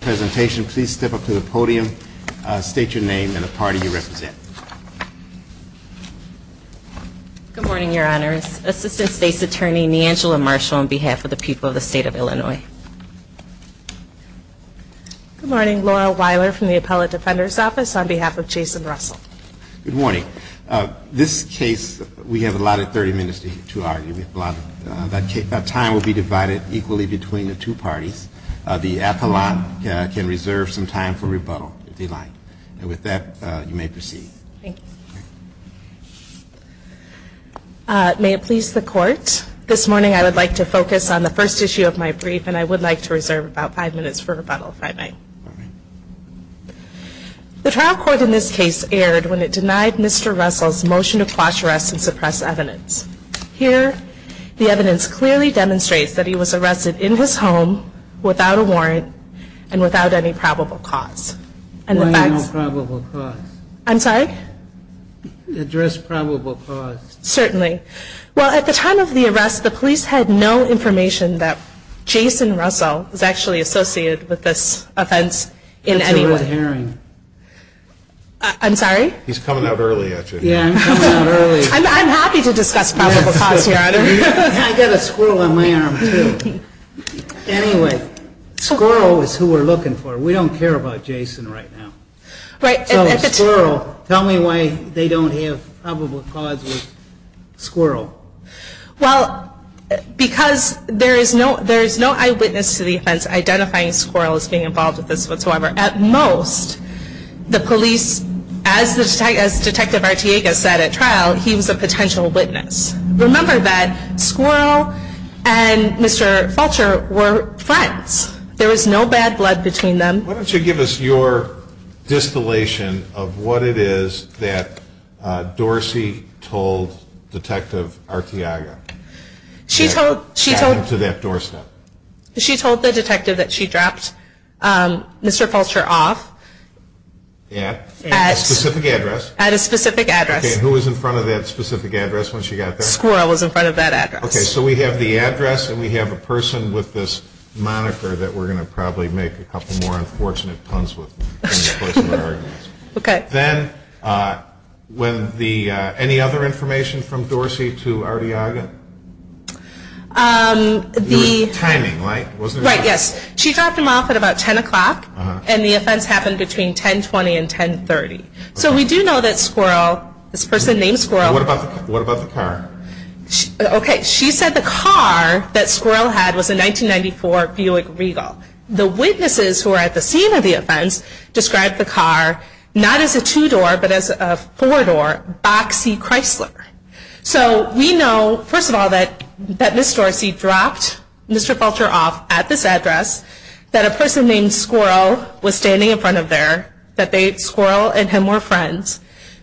presentation, please step up to the podium. State your name and the party you represent. Good morning, Your Honors. Assistant State's Attorney NeAngela Marshall on behalf of the people of the State of Illinois. Good morning. Laura Weiler from the Appellate Defender's Office on behalf of Jason Russel. Good morning. This case, we have allotted 30 minutes to argue. That time will be divided equally between the two parties. The appellant can reserve some time for rebuttal, if you'd like. And with that, you may proceed. Thank you. May it please the Court, this morning I would like to focus on the first issue of my brief, and I would like to reserve about five minutes for rebuttal, if I may. The trial court in this case erred when it denied Mr. Russel's motion to quash arrests and suppress evidence. Here, the evidence clearly demonstrates that he was arrested in his home, without a warrant, and without any probable cause. Why no probable cause? I'm sorry? Address probable cause. Certainly. Well, at the time of the arrest, the police had no information that Jason Russel was actually associated with this offense in any way. I'm sorry? He's coming out early at you. Yeah, I'm coming out early. I'm happy to discuss probable cause here. I've got a squirrel on my arm, too. Anyway, squirrel is who we're looking for. We don't care about Jason right now. So a squirrel, tell me why they don't have probable cause with squirrel. Well, because there is no eyewitness to the offense identifying squirrel as being involved with this whatsoever. At most, the police, as Detective Arteaga said at trial, he was a potential witness. Remember that squirrel and Mr. Falcher were friends. There was no bad blood between them. Why don't you give us your distillation of what it is that Dorsey told Detective Arteaga that happened to that doorstep? She told the detective that she dropped Mr. Falcher off at a specific address. Who was in front of that specific address when she got there? Squirrel was in front of that address. Okay, so we have the address and we have a person with this moniker that we're going to probably make a couple more unfortunate puns with. Okay. Then, any other information from Dorsey to Arteaga? The... Timing, right? Right, yes. She dropped him off at about 10 o'clock and the offense happened between 10.20 and 10.30. So we do know that squirrel, this person named squirrel... What about the car? Okay, she said the car that squirrel had was a 1994 Buick Regal. The witnesses who were at the scene of the offense described the car not as a two-door but as a four-door boxy Chrysler. So we know, first of all, that Ms. Dorsey dropped Mr. Falcher off at this address. That a person named squirrel was standing in front of there. That squirrel and him were friends.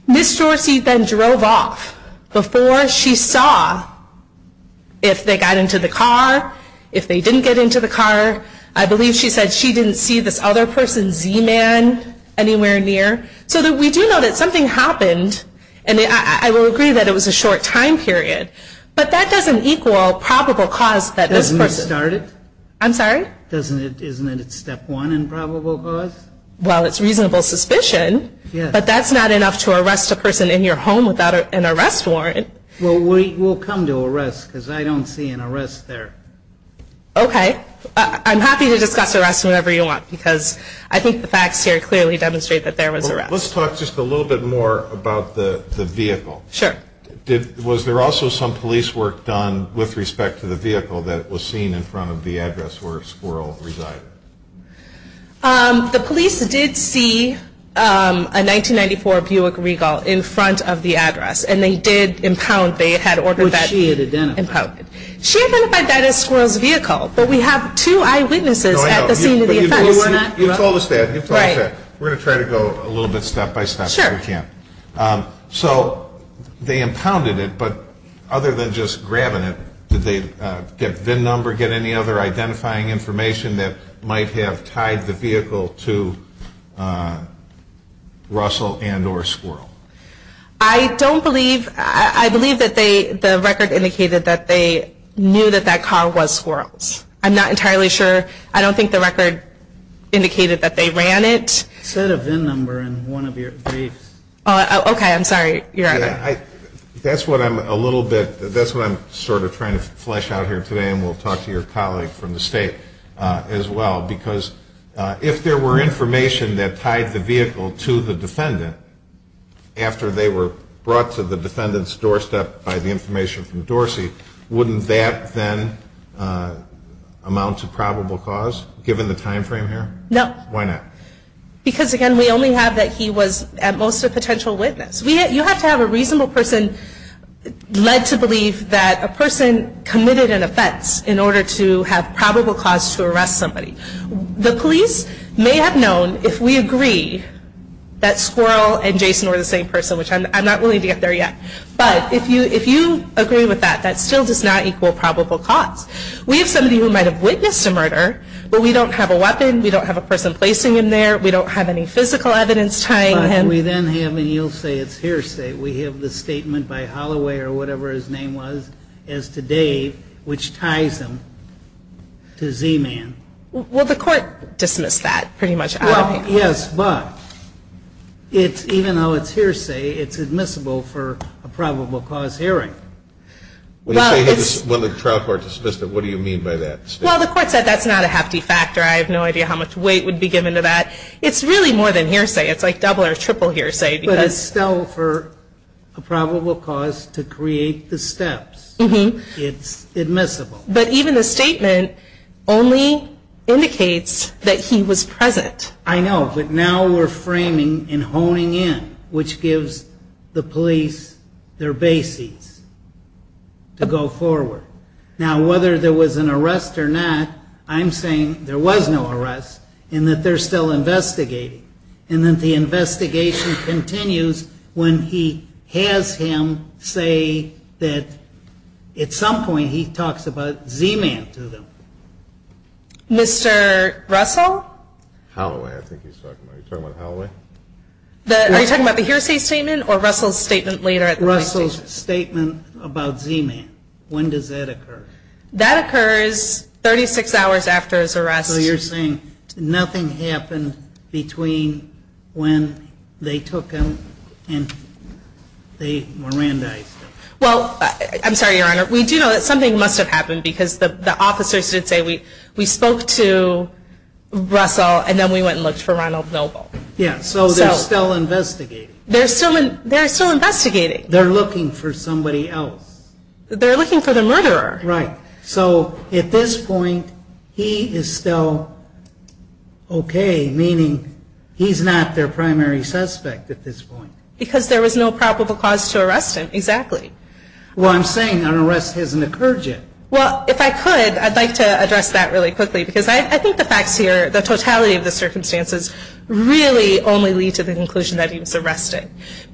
Ms. Dorsey then drove off before she saw if they got into the car, if they didn't get into the car. I believe she said she didn't see this other person, Z-Man, anywhere near. So we do know that something happened and I will agree that it was a short time period. But that doesn't equal probable cause that this person... Doesn't it start it? I'm sorry? Isn't it step one in probable cause? Well, it's reasonable suspicion, but that's not enough to arrest a person in your home without an arrest warrant. Well, we'll come to arrest because I don't see an arrest there. Okay. I'm happy to discuss arrest whenever you want because I think the facts here clearly demonstrate that there was arrest. Let's talk just a little bit more about the vehicle. Sure. Was there also some police work done with respect to the vehicle that was seen in front of the address where squirrel resided? The police did see a 1994 Buick Regal in front of the address and they did impound, they had ordered that... Which she had identified. She identified that as squirrel's vehicle, but we have two eyewitnesses at the scene of the offense. You've told us that. Right. We're going to try to go a little bit step by step if we can. Sure. So they impounded it, but other than just grabbing it, did they get VIN number, did they ever get any other identifying information that might have tied the vehicle to Russell and or squirrel? I don't believe, I believe that the record indicated that they knew that that car was squirrel's. I'm not entirely sure. I don't think the record indicated that they ran it. You said a VIN number in one of your briefs. Okay. I'm sorry. That's what I'm a little bit, that's what I'm sort of trying to flesh out here today and we'll talk to your colleague from the state as well, because if there were information that tied the vehicle to the defendant after they were brought to the defendant's doorstep by the information from Dorsey, wouldn't that then amount to probable cause given the time frame here? No. Why not? Because, again, we only have that he was at most a potential witness. You have to have a reasonable person led to believe that a person committed an offense in order to have probable cause to arrest somebody. The police may have known if we agree that squirrel and Jason were the same person, which I'm not willing to get there yet, but if you agree with that, that still does not equal probable cause. We have somebody who might have witnessed a murder, but we don't have a weapon, we don't have a person placing him there, we don't have any physical evidence tying him. And we then have, and you'll say it's hearsay, we have the statement by Holloway or whatever his name was, as to Dave, which ties him to Z-Man. Well, the court dismissed that pretty much out of hand. Yes, but even though it's hearsay, it's admissible for a probable cause hearing. When the trial court dismissed it, what do you mean by that? Well, the court said that's not a hefty factor, I have no idea how much weight would be given to that. It's really more than hearsay, it's like double or triple hearsay. But it's still for a probable cause to create the steps. It's admissible. But even the statement only indicates that he was present. I know, but now we're framing and honing in, which gives the police their bases to go forward. Now, whether there was an arrest or not, I'm saying there was no arrest, and that they're still investigating, and that the investigation continues when he has him say that at some point he talks about Z-Man to them. Mr. Russell? Holloway, I think he's talking about. Are you talking about Holloway? Are you talking about the hearsay statement or Russell's statement later at the police station? Russell's statement about Z-Man. When does that occur? That occurs 36 hours after his arrest. So you're saying nothing happened between when they took him and they Mirandized him. Well, I'm sorry, Your Honor. We do know that something must have happened because the officers did say we spoke to Russell and then we went and looked for Ronald Noble. Yeah, so they're still investigating. They're still investigating. They're looking for somebody else. They're looking for the murderer. Right, so at this point he is still okay, meaning he's not their primary suspect at this point. Because there was no probable cause to arrest him, exactly. Well, I'm saying an arrest hasn't occurred yet. Well, if I could, I'd like to address that really quickly because I think the facts here, the totality of the circumstances, really only lead to the conclusion that he was arrested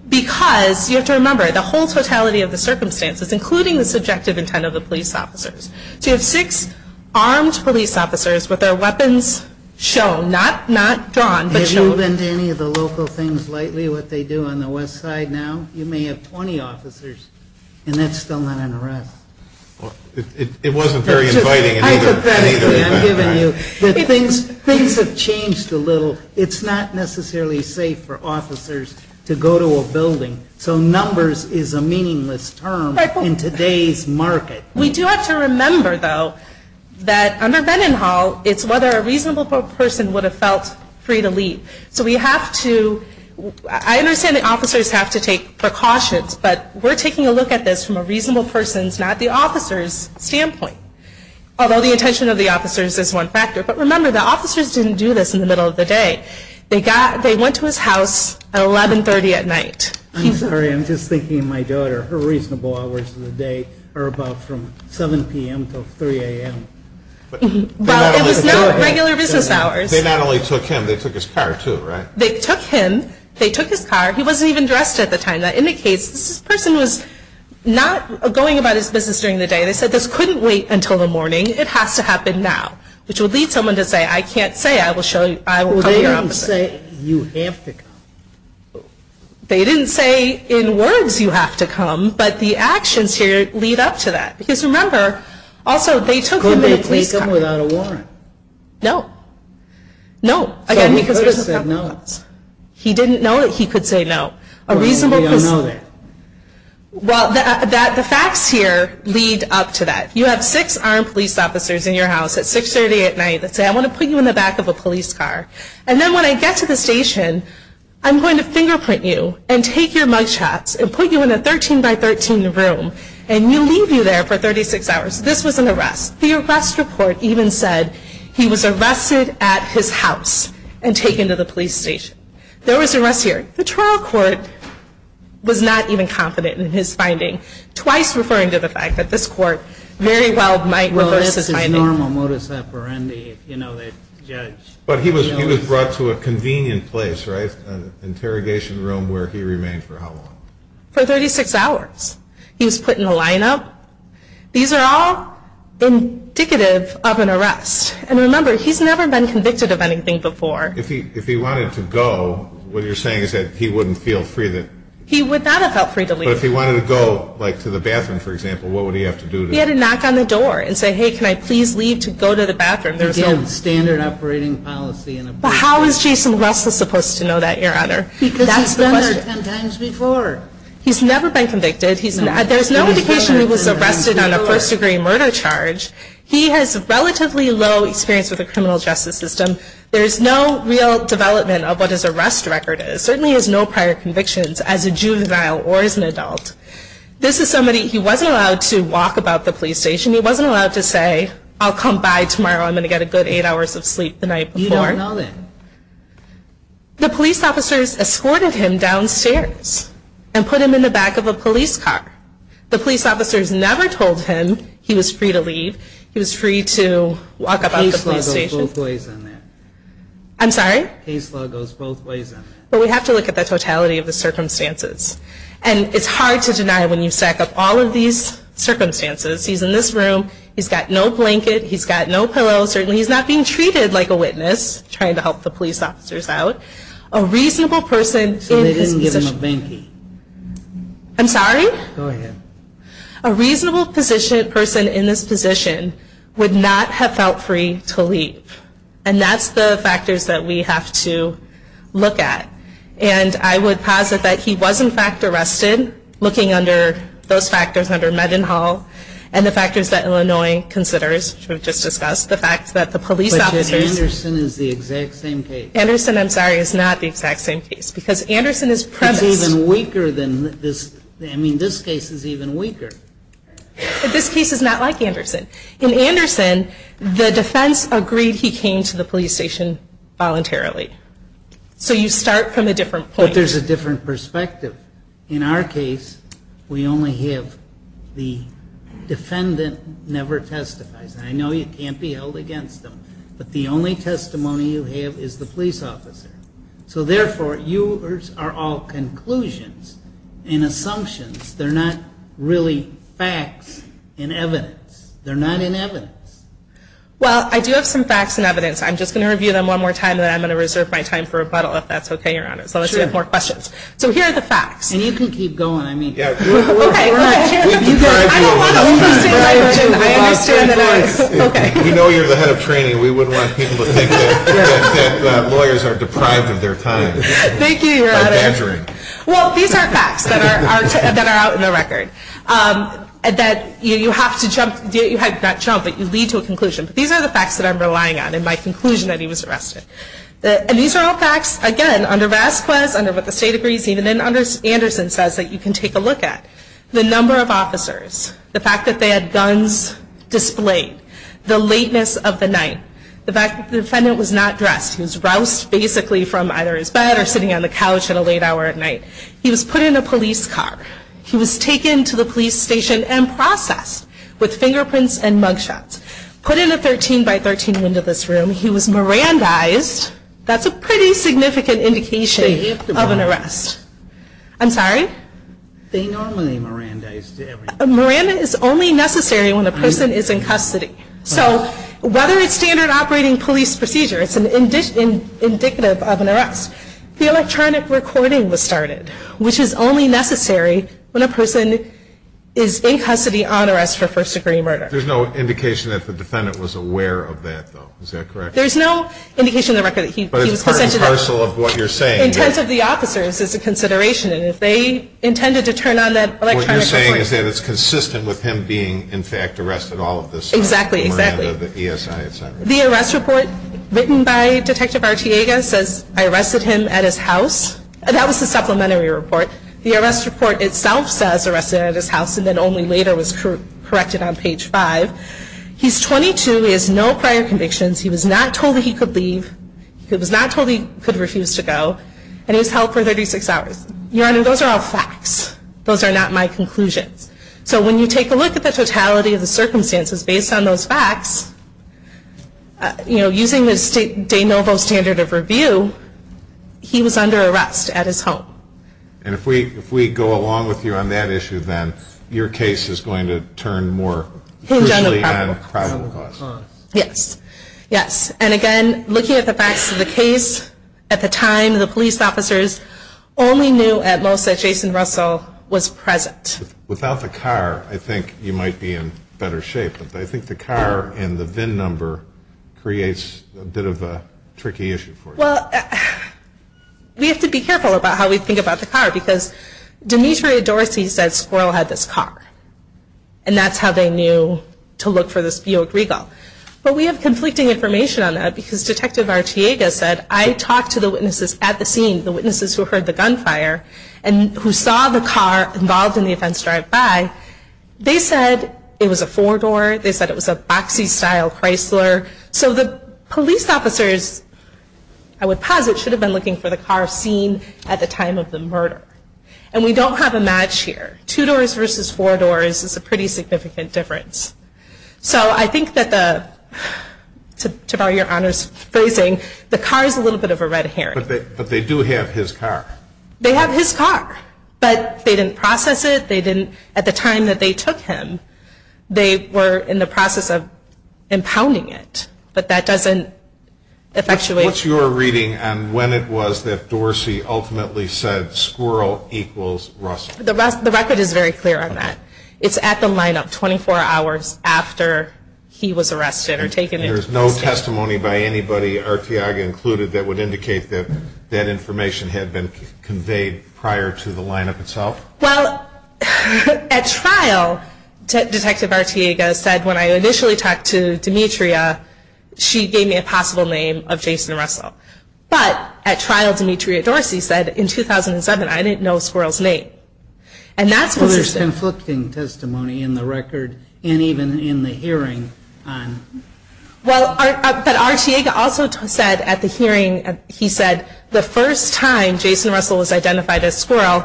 because you have to remember the whole totality of the circumstances, including the subjective intent of the police officers. So you have six armed police officers with their weapons shown, not drawn, but shown. Have you been to any of the local things lately, what they do on the west side now? You may have 20 officers, and that's still not an arrest. It wasn't very inviting. Hypothetically, I'm giving you that things have changed a little. It's not necessarily safe for officers to go to a building, so numbers is a meaningless term. In today's market. We do have to remember, though, that under Vennon Hall, it's whether a reasonable person would have felt free to leave. So we have to, I understand the officers have to take precautions, but we're taking a look at this from a reasonable person's, not the officer's, standpoint. Although the intention of the officers is one factor. But remember, the officers didn't do this in the middle of the day. They went to his house at 1130 at night. I'm sorry, I'm just thinking of my daughter. Her reasonable hours of the day are about from 7 p.m. to 3 a.m. Well, it was not regular business hours. They not only took him, they took his car, too, right? They took him. They took his car. He wasn't even dressed at the time. That indicates this person was not going about his business during the day. They said this couldn't wait until the morning. It has to happen now. Which would lead someone to say, I can't say, I will call your officer. Well, they didn't say, you have to go. They didn't say, in words, you have to come. But the actions here lead up to that. Because remember, also, they took him in a police car. Couldn't they have policed him without a warrant? No. No. So he could have said no. He didn't know that he could say no. A reasonable person. We don't know that. Well, the facts here lead up to that. You have six armed police officers in your house at 630 at night that say, I want to put you in the back of a police car. And then when I get to the station, I'm going to fingerprint you and take your mug shots and put you in a 13 by 13 room and leave you there for 36 hours. This was an arrest. The arrest report even said he was arrested at his house and taken to the police station. There was an arrest here. The trial court was not even confident in his finding. Twice referring to the fact that this court very well might reverse his finding. But he was brought to a convenient place, right? An interrogation room where he remained for how long? For 36 hours. He was put in a lineup. These are all indicative of an arrest. And remember, he's never been convicted of anything before. If he wanted to go, what you're saying is that he wouldn't feel free to leave? He would not have felt free to leave. But if he wanted to go, like, to the bathroom, for example, what would he have to do? He had to knock on the door and say, hey, can I please leave to go to the bathroom? Again, standard operating policy. But how is Jason Russell supposed to know that, Your Honor? Because he's been there 10 times before. He's never been convicted. There's no indication he was arrested on a first degree murder charge. He has relatively low experience with the criminal justice system. There's no real development of what his arrest record is. Certainly has no prior convictions as a juvenile or as an adult. This is somebody, he wasn't allowed to walk about the police station. He wasn't allowed to say, I'll come by tomorrow. I'm going to get a good eight hours of sleep the night before. You don't know that. The police officers escorted him downstairs and put him in the back of a police car. The police officers never told him he was free to leave. He was free to walk about the police station. Case law goes both ways on that. I'm sorry? Case law goes both ways on that. But we have to look at the totality of the circumstances. And it's hard to deny when you stack up all of these circumstances. He's in this room. He's got no blanket. He's got no pillow. Certainly he's not being treated like a witness trying to help the police officers out. A reasonable person in his position. So they didn't give him a bankie? I'm sorry? Go ahead. A reasonable person in this position would not have felt free to leave. And that's the factors that we have to look at. And I would posit that he was in fact arrested looking under those factors under Mendenhall and the factors that Illinois considers, which we've just discussed, the fact that the police officers. But Anderson is the exact same case. Anderson, I'm sorry, is not the exact same case. Because Anderson is premised. It's even weaker than this. I mean, this case is even weaker. But this case is not like Anderson. In Anderson, the defense agreed he came to the police station voluntarily. So you start from a different point. But there's a different perspective. In our case, we only have the defendant never testifies. And I know you can't be held against them. But the only testimony you have is the police officer. So, therefore, yours are all conclusions and assumptions. They're not really facts and evidence. They're not in evidence. Well, I do have some facts and evidence. I'm just going to review them one more time, and then I'm going to reserve my time for rebuttal, if that's okay, Your Honor. So let's see if we have more questions. So here are the facts. And you can keep going, I mean. Okay. I don't want to overstate my position. I understand that I'm going to. We know you're the head of training. We wouldn't want people to think that lawyers are deprived of their time. Thank you, Your Honor. By badgering. Well, these are facts that are out in the record, that you have to jump to a conclusion. These are the facts that I'm relying on. And my conclusion that he was arrested. And these are all facts, again, under Vasquez, under what the state agrees, even under Anderson says that you can take a look at the number of officers, the fact that they had guns displayed, the lateness of the night, the fact that the defendant was not dressed. He was roused, basically, from either his bed or sitting on the couch at a late hour at night. He was put in a police car. He was taken to the police station and processed with fingerprints and mugshots. Put in a 13-by-13 window this room. He was Mirandized. That's a pretty significant indication of an arrest. I'm sorry? They normally Mirandize. Mirandize is only necessary when a person is in custody. So whether it's standard operating police procedure, it's indicative of an arrest. The electronic recording was started, which is only necessary when a person is in custody on arrest for first-degree murder. There's no indication that the defendant was aware of that, though. Is that correct? There's no indication in the record that he was consented to that. But it's part and parcel of what you're saying. Intent of the officers is a consideration, and if they intended to turn on that electronic recording. What you're saying is that it's consistent with him being, in fact, arrested all of this time. Exactly, exactly. The Miranda, the ESI, et cetera. The arrest report written by Detective Artiega says, I arrested him at his house. That was the supplementary report. The arrest report itself says arrested at his house, and then only later was corrected on page five. He's 22. He has no prior convictions. He was not told that he could leave. He was not told he could refuse to go, and he was held for 36 hours. Your Honor, those are all facts. Those are not my conclusions. So when you take a look at the totality of the circumstances based on those facts, using the de novo standard of review, he was under arrest at his home. And if we go along with you on that issue, then, your case is going to turn more crucially on probable cause. Yes. Yes. And, again, looking at the facts of the case, at the time, the police officers only knew, at most, that Jason Russell was present. Without the car, I think you might be in better shape, but I think the car and the VIN number creates a bit of a tricky issue for you. Well, we have to be careful about how we think about the car, because Demetria Dorsey said Squirrel had this car, and that's how they knew to look for this Buick Regal. But we have conflicting information on that, because Detective Artiega said, I talked to the witnesses at the scene, the witnesses who heard the gunfire, and who saw the car involved in the offense drive by. They said it was a four-door. They said it was a boxy-style Chrysler. So the police officers, I would posit, should have been looking for the car seen at the time of the murder. And we don't have a match here. Two doors versus four doors is a pretty significant difference. So I think that the, to borrow your Honor's phrasing, the car is a little bit of a red herring. But they do have his car. They have his car, but they didn't process it. At the time that they took him, they were in the process of impounding it. But that doesn't effectuate. What's your reading on when it was that Dorsey ultimately said, Squirrel equals Russell? The record is very clear on that. It's at the lineup, 24 hours after he was arrested or taken into custody. There's no testimony by anybody, Artiega included, that would indicate that that information had been conveyed prior to the lineup itself? Well, at trial, Detective Artiega said, when I initially talked to Demetria, she gave me a possible name of Jason Russell. But at trial, Demetria Dorsey said, in 2007, I didn't know Squirrel's name. And that's what's interesting. So there's conflicting testimony in the record and even in the hearing. Well, but Artiega also said at the hearing, he said, the first time Jason Russell was identified as Squirrel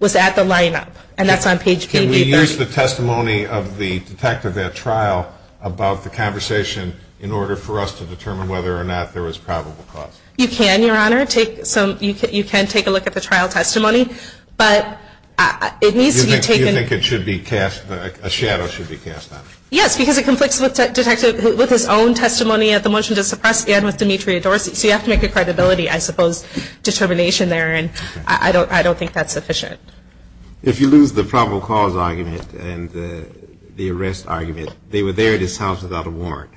was at the lineup. And that's on page PD. Can we use the testimony of the detective at trial about the conversation in order for us to determine whether or not there was probable cause? You can, Your Honor. You can take a look at the trial testimony. But it needs to be taken. You think a shadow should be cast on it? Yes, because it conflicts with his own testimony at the motion to suppress and with Demetria Dorsey. So you have to make a credibility, I suppose, determination there. And I don't think that's sufficient. If you lose the probable cause argument and the arrest argument, they were there at his house without a warrant,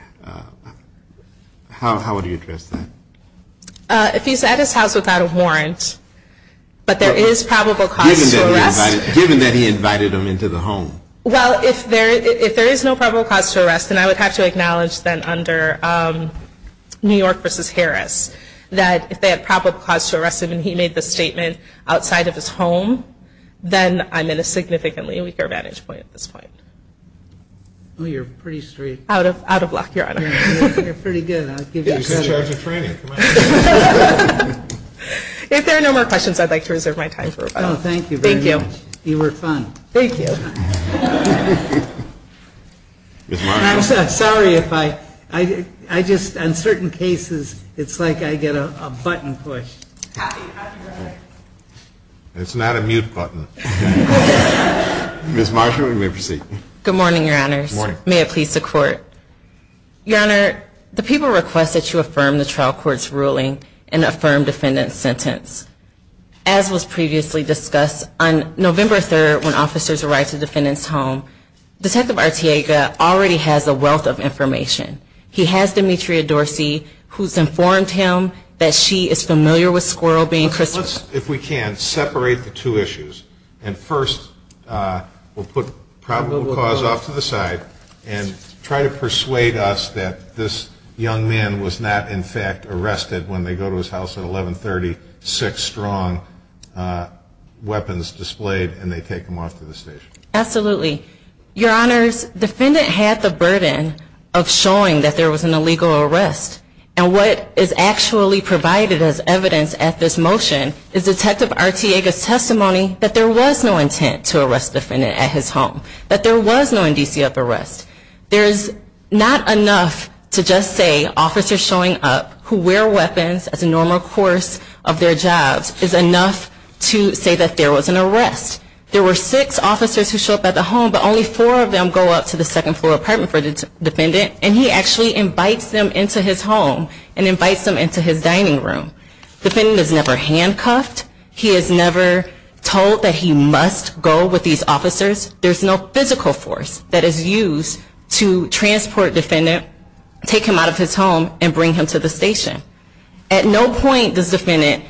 how would you address that? If he's at his house without a warrant, but there is probable cause to arrest. Given that he invited them into the home. Well, if there is no probable cause to arrest, then I would have to acknowledge then under New York v. Harris, that if they had probable cause to arrest him and he made the statement outside of his home, then I'm in a significantly weaker vantage point at this point. Oh, you're pretty straight. Out of luck, Your Honor. You're pretty good. I'll give you credit. She's in charge of training. If there are no more questions, I'd like to reserve my time. Thank you very much. Thank you. You were fun. Thank you. Ms. Marshall. I'm sorry. On certain cases, it's like I get a button push. It's not a mute button. Ms. Marshall, you may proceed. Good morning, Your Honors. Good morning. May it please the Court. Your Honor, the people request that you affirm the trial court's ruling and affirm defendant's sentence. As was previously discussed, on November 3rd, when officers arrived at the defendant's home, Detective Artiega already has a wealth of information. He has Demetria Dorsey, who's informed him that she is familiar with Squirrel being crucified. If we can, separate the two issues. First, we'll put probable cause off to the side and try to persuade us that this young man was not, in fact, arrested when they go to his house at 1130, six strong weapons displayed, and they take him off to the station. Absolutely. Your Honors, defendant had the burden of showing that there was an illegal arrest. And what is actually provided as evidence at this motion is Detective Artiega's testimony that there was no intent to arrest defendant at his home, that there was no NDCF arrest. There is not enough to just say officers showing up who wear weapons as a normal course of their jobs is enough to say that there was an arrest. There were six officers who show up at the home, but only four of them go up to the second floor apartment for the defendant, and he actually invites them into his home and invites them into his dining room. Defendant is never handcuffed. He is never told that he must go with these officers. There's no physical force that is used to transport defendant, take him out of his home, and bring him to the station. At no point does defendant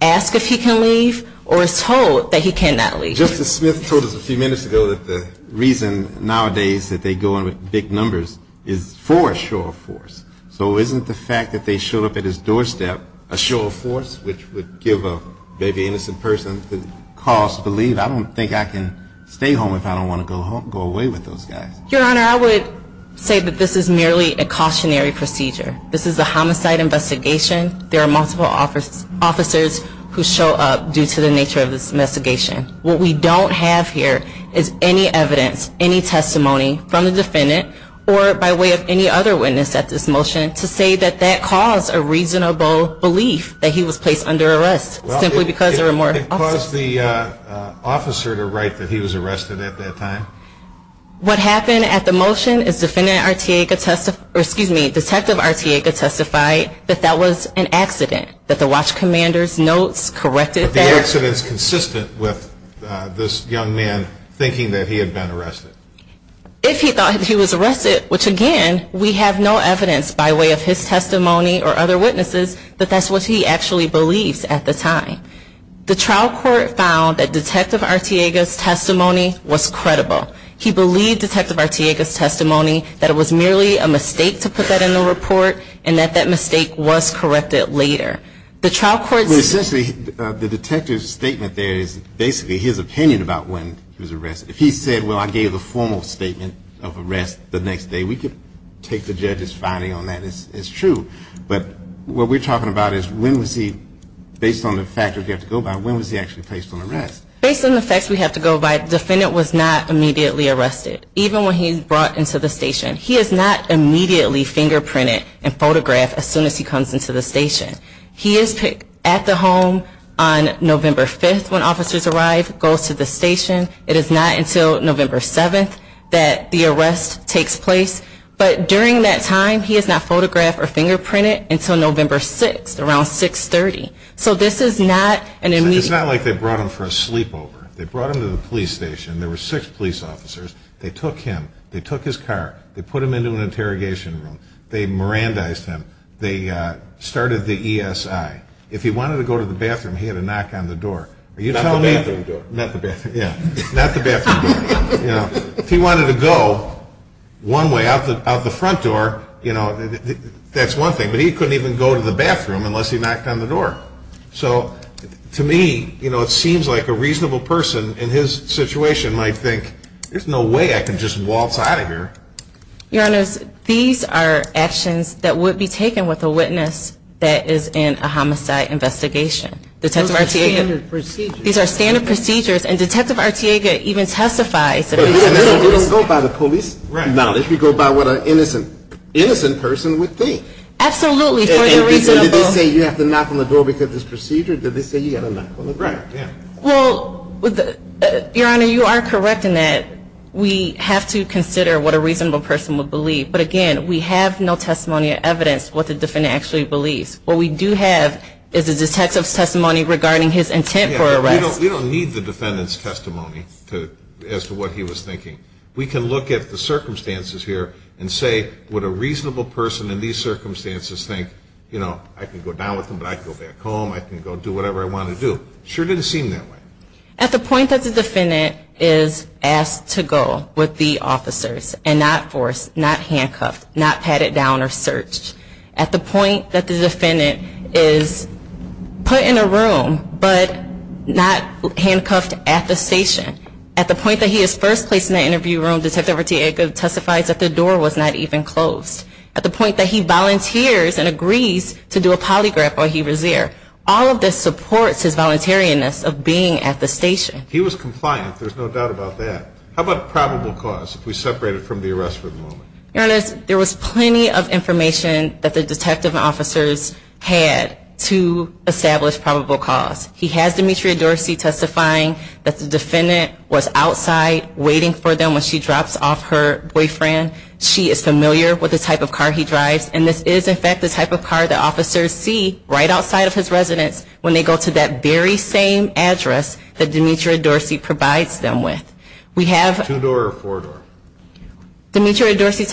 ask if he can leave or is told that he cannot leave. Justice Smith told us a few minutes ago that the reason nowadays that they go in with big numbers is for a show of force. So isn't the fact that they show up at his doorstep a show of force, which would give a maybe innocent person the cause to leave? I don't think I can stay home if I don't want to go away with those guys. Your Honor, I would say that this is merely a cautionary procedure. This is a homicide investigation. There are multiple officers who show up due to the nature of this investigation. What we don't have here is any evidence, any testimony from the defendant or by way of any other witness at this motion to say that that caused a reasonable belief that he was placed under arrest simply because there were more officers. Well, it caused the officer to write that he was arrested at that time. What happened at the motion is Detective Artiega testified that that was an accident, that the watch commander's notes corrected that. But the accident is consistent with this young man thinking that he had been arrested. If he thought he was arrested, which again, we have no evidence by way of his testimony or other witnesses that that's what he actually believes at the time. The trial court found that Detective Artiega's testimony was credible. He believed Detective Artiega's testimony, that it was merely a mistake to put that in the report and that that mistake was corrected later. The trial court said... Well, essentially, the detective's statement there is basically his opinion about when he was arrested. If he said, well, I gave a formal statement of arrest the next day, we could take the judge's finding on that as true. But what we're talking about is when was he, based on the fact that you have to go by, when was he actually placed on arrest? Based on the facts we have to go by, the defendant was not immediately arrested, even when he was brought into the station. He is not immediately fingerprinted and photographed as soon as he comes into the station. He is at the home on November 5th when officers arrive, goes to the station. It is not until November 7th that the arrest takes place. But during that time, he is not photographed or fingerprinted until November 6th, around 630. So this is not an immediate... It's not like they brought him for a sleepover. They brought him to the police station. There were six police officers. They took him. They took his car. They put him into an interrogation room. They Mirandized him. They started the ESI. If he wanted to go to the bathroom, he had to knock on the door. Not the bathroom door. Not the bathroom door. Yeah. Not the bathroom door. If he wanted to go one way, out the front door, that's one thing. But he couldn't even go to the bathroom unless he knocked on the door. So to me, it seems like a reasonable person in his situation might think, there's no way I can just waltz out of here. Your Honor, these are actions that would be taken with a witness that is in a homicide investigation. Those are standard procedures. These are standard procedures. And Detective Artiega even testifies. We don't go by the police knowledge. We go by what an innocent person would think. Absolutely. Did they say you have to knock on the door because of this procedure? Did they say you have to knock on the door? Well, Your Honor, you are correct in that we have to consider what a reasonable person would believe. But, again, we have no testimony or evidence what the defendant actually believes. What we do have is the detective's testimony regarding his intent for arrest. We don't need the defendant's testimony as to what he was thinking. We can look at the circumstances here and say, would a reasonable person in these circumstances think, you know, I can go down with him, but I can go back home, I can go do whatever I want to do. It sure didn't seem that way. At the point that the defendant is asked to go with the officers and not forced, not handcuffed, not patted down or searched, at the point that the defendant is put in a room but not handcuffed at the station, at the point that he is first placed in the interview room, Detective Ortega testifies that the door was not even closed, at the point that he volunteers and agrees to do a polygraph while he was there, all of this supports his voluntariness of being at the station. He was compliant. There's no doubt about that. How about probable cause if we separate it from the arrest for the moment? Your Honor, there was plenty of information that the detective officers had to establish probable cause. He has Demetria Dorsey testifying that the defendant was outside waiting for them when she drops off her boyfriend. She is familiar with the type of car he drives, and this is in fact the type of car that officers see right outside of his residence when they go to that very same address that Demetria Dorsey provides them with. Two-door or four-door? Demetria Dorsey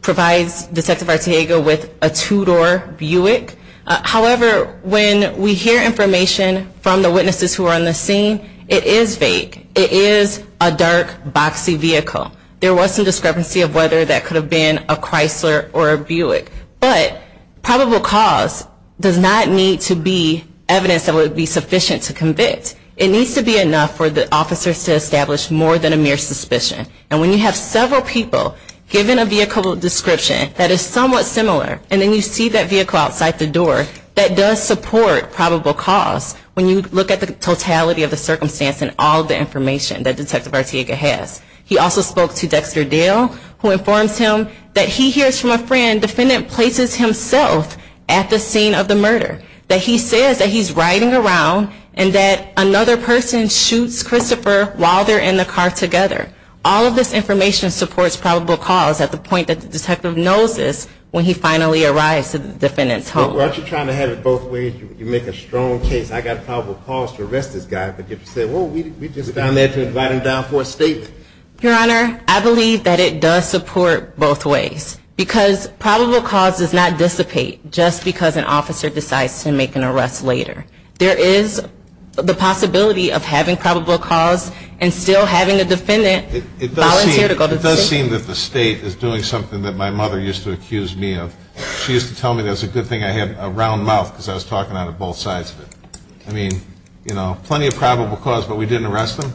provides Detective Ortega with a two-door Buick. However, when we hear information from the witnesses who are on the scene, it is vague. It is a dark, boxy vehicle. There was some discrepancy of whether that could have been a Chrysler or a Buick. But probable cause does not need to be evidence that would be sufficient to convict. It needs to be enough for the officers to establish more than a mere suspicion. And when you have several people given a vehicle description that is somewhat similar and then you see that vehicle outside the door, that does support probable cause when you look at the totality of the circumstance and all the information that Detective Ortega has. He also spoke to Dexter Dale, who informs him that he hears from a friend the defendant places himself at the scene of the murder, that he says that he's riding around and that another person shoots Christopher while they're in the car together. All of this information supports probable cause at the point that the detective knows this when he finally arrives at the defendant's home. Well, aren't you trying to have it both ways? You make a strong case. I got probable cause to arrest this guy, but you say, well, we just found that to invite him down for a statement. Your Honor, I believe that it does support both ways because probable cause does not dissipate just because an officer decides to make an arrest later. There is the possibility of having probable cause and still having a defendant volunteer to go to the state. It does seem that the state is doing something that my mother used to accuse me of. She used to tell me that was a good thing I had a round mouth because I was talking out of both sides of it. I mean, you know, plenty of probable cause, but we didn't arrest him?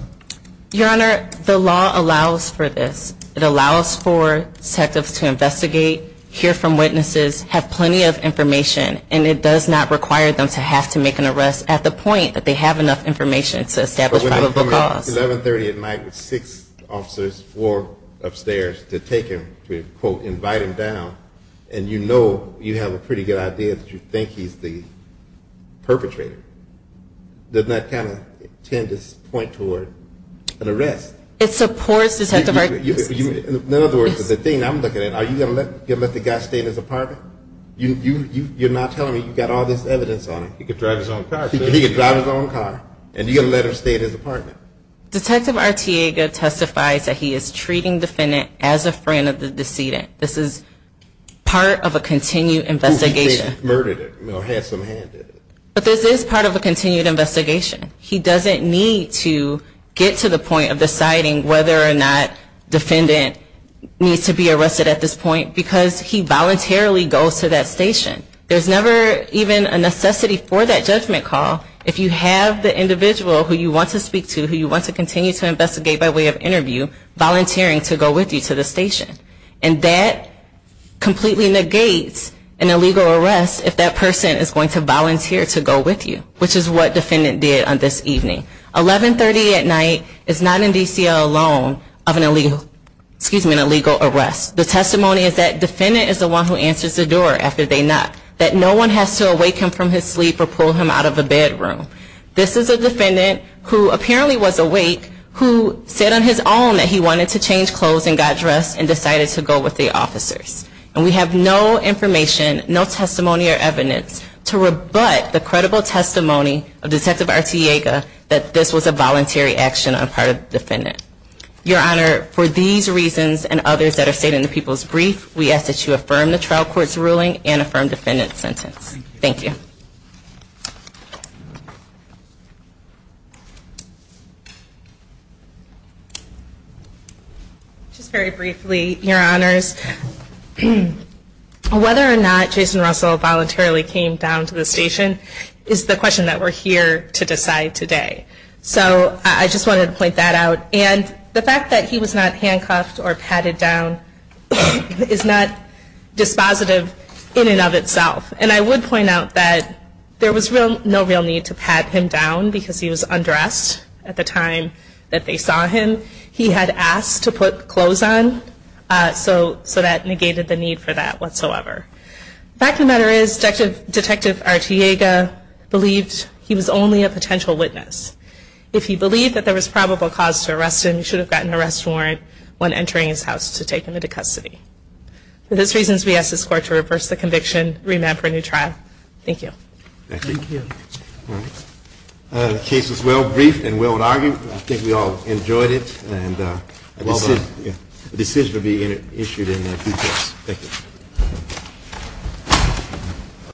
Your Honor, the law allows for this. It allows for detectives to investigate, hear from witnesses, have plenty of information, and it does not require them to have to make an arrest at the point that they have enough information to establish probable cause. But when I come in at 1130 at night with six officers, four upstairs, to take him, to quote, invite him down, and you know you have a pretty good idea that you think he's the perpetrator, doesn't that kind of tend to point toward an arrest? It supports detective arguments. In other words, the thing I'm looking at, are you going to let the guy stay in his apartment? You're not telling me you've got all this evidence on him. He could drive his own car. He could drive his own car. And you're going to let him stay in his apartment. Detective Arteaga testifies that he is treating the defendant as a friend of the decedent. This is part of a continued investigation. He murdered him or had some hand in it. But this is part of a continued investigation. He doesn't need to get to the point of deciding whether or not defendant needs to be arrested at this point because he voluntarily goes to that station. There's never even a necessity for that judgment call if you have the individual who you want to speak to, who you want to continue to investigate by way of interview, volunteering to go with you to the station. And that completely negates an illegal arrest if that person is going to volunteer to go with you, which is what defendant did on this evening. 1130 at night is not in DCL alone of an illegal arrest. The testimony is that defendant is the one who answers the door after they knock, that no one has to awake him from his sleep or pull him out of the bedroom. This is a defendant who apparently was awake who said on his own that he wanted to change clothes and got dressed and decided to go with the officers. And we have no information, no testimony or evidence to rebut the credible testimony of Detective Arteaga Your Honor, for these reasons and others that are stated in the People's Brief, we ask that you affirm the trial court's ruling and affirm defendant's sentence. Thank you. Just very briefly, Your Honors, whether or not Jason Russell voluntarily came down to the station is the question that we're here to decide today. So I just wanted to point that out. And the fact that he was not handcuffed or patted down is not dispositive in and of itself. And I would point out that there was no real need to pat him down because he was undressed at the time that they saw him. He had asked to put clothes on, so that negated the need for that whatsoever. The fact of the matter is Detective Arteaga believed he was only a potential witness. If he believed that there was probable cause to arrest him, he should have gotten an arrest warrant when entering his house to take him into custody. For those reasons, we ask this Court to reverse the conviction, remand for a new trial. Thank you. Thank you. The case was well briefed and well argued. I think we all enjoyed it. The decision will be issued in due course. Thank you.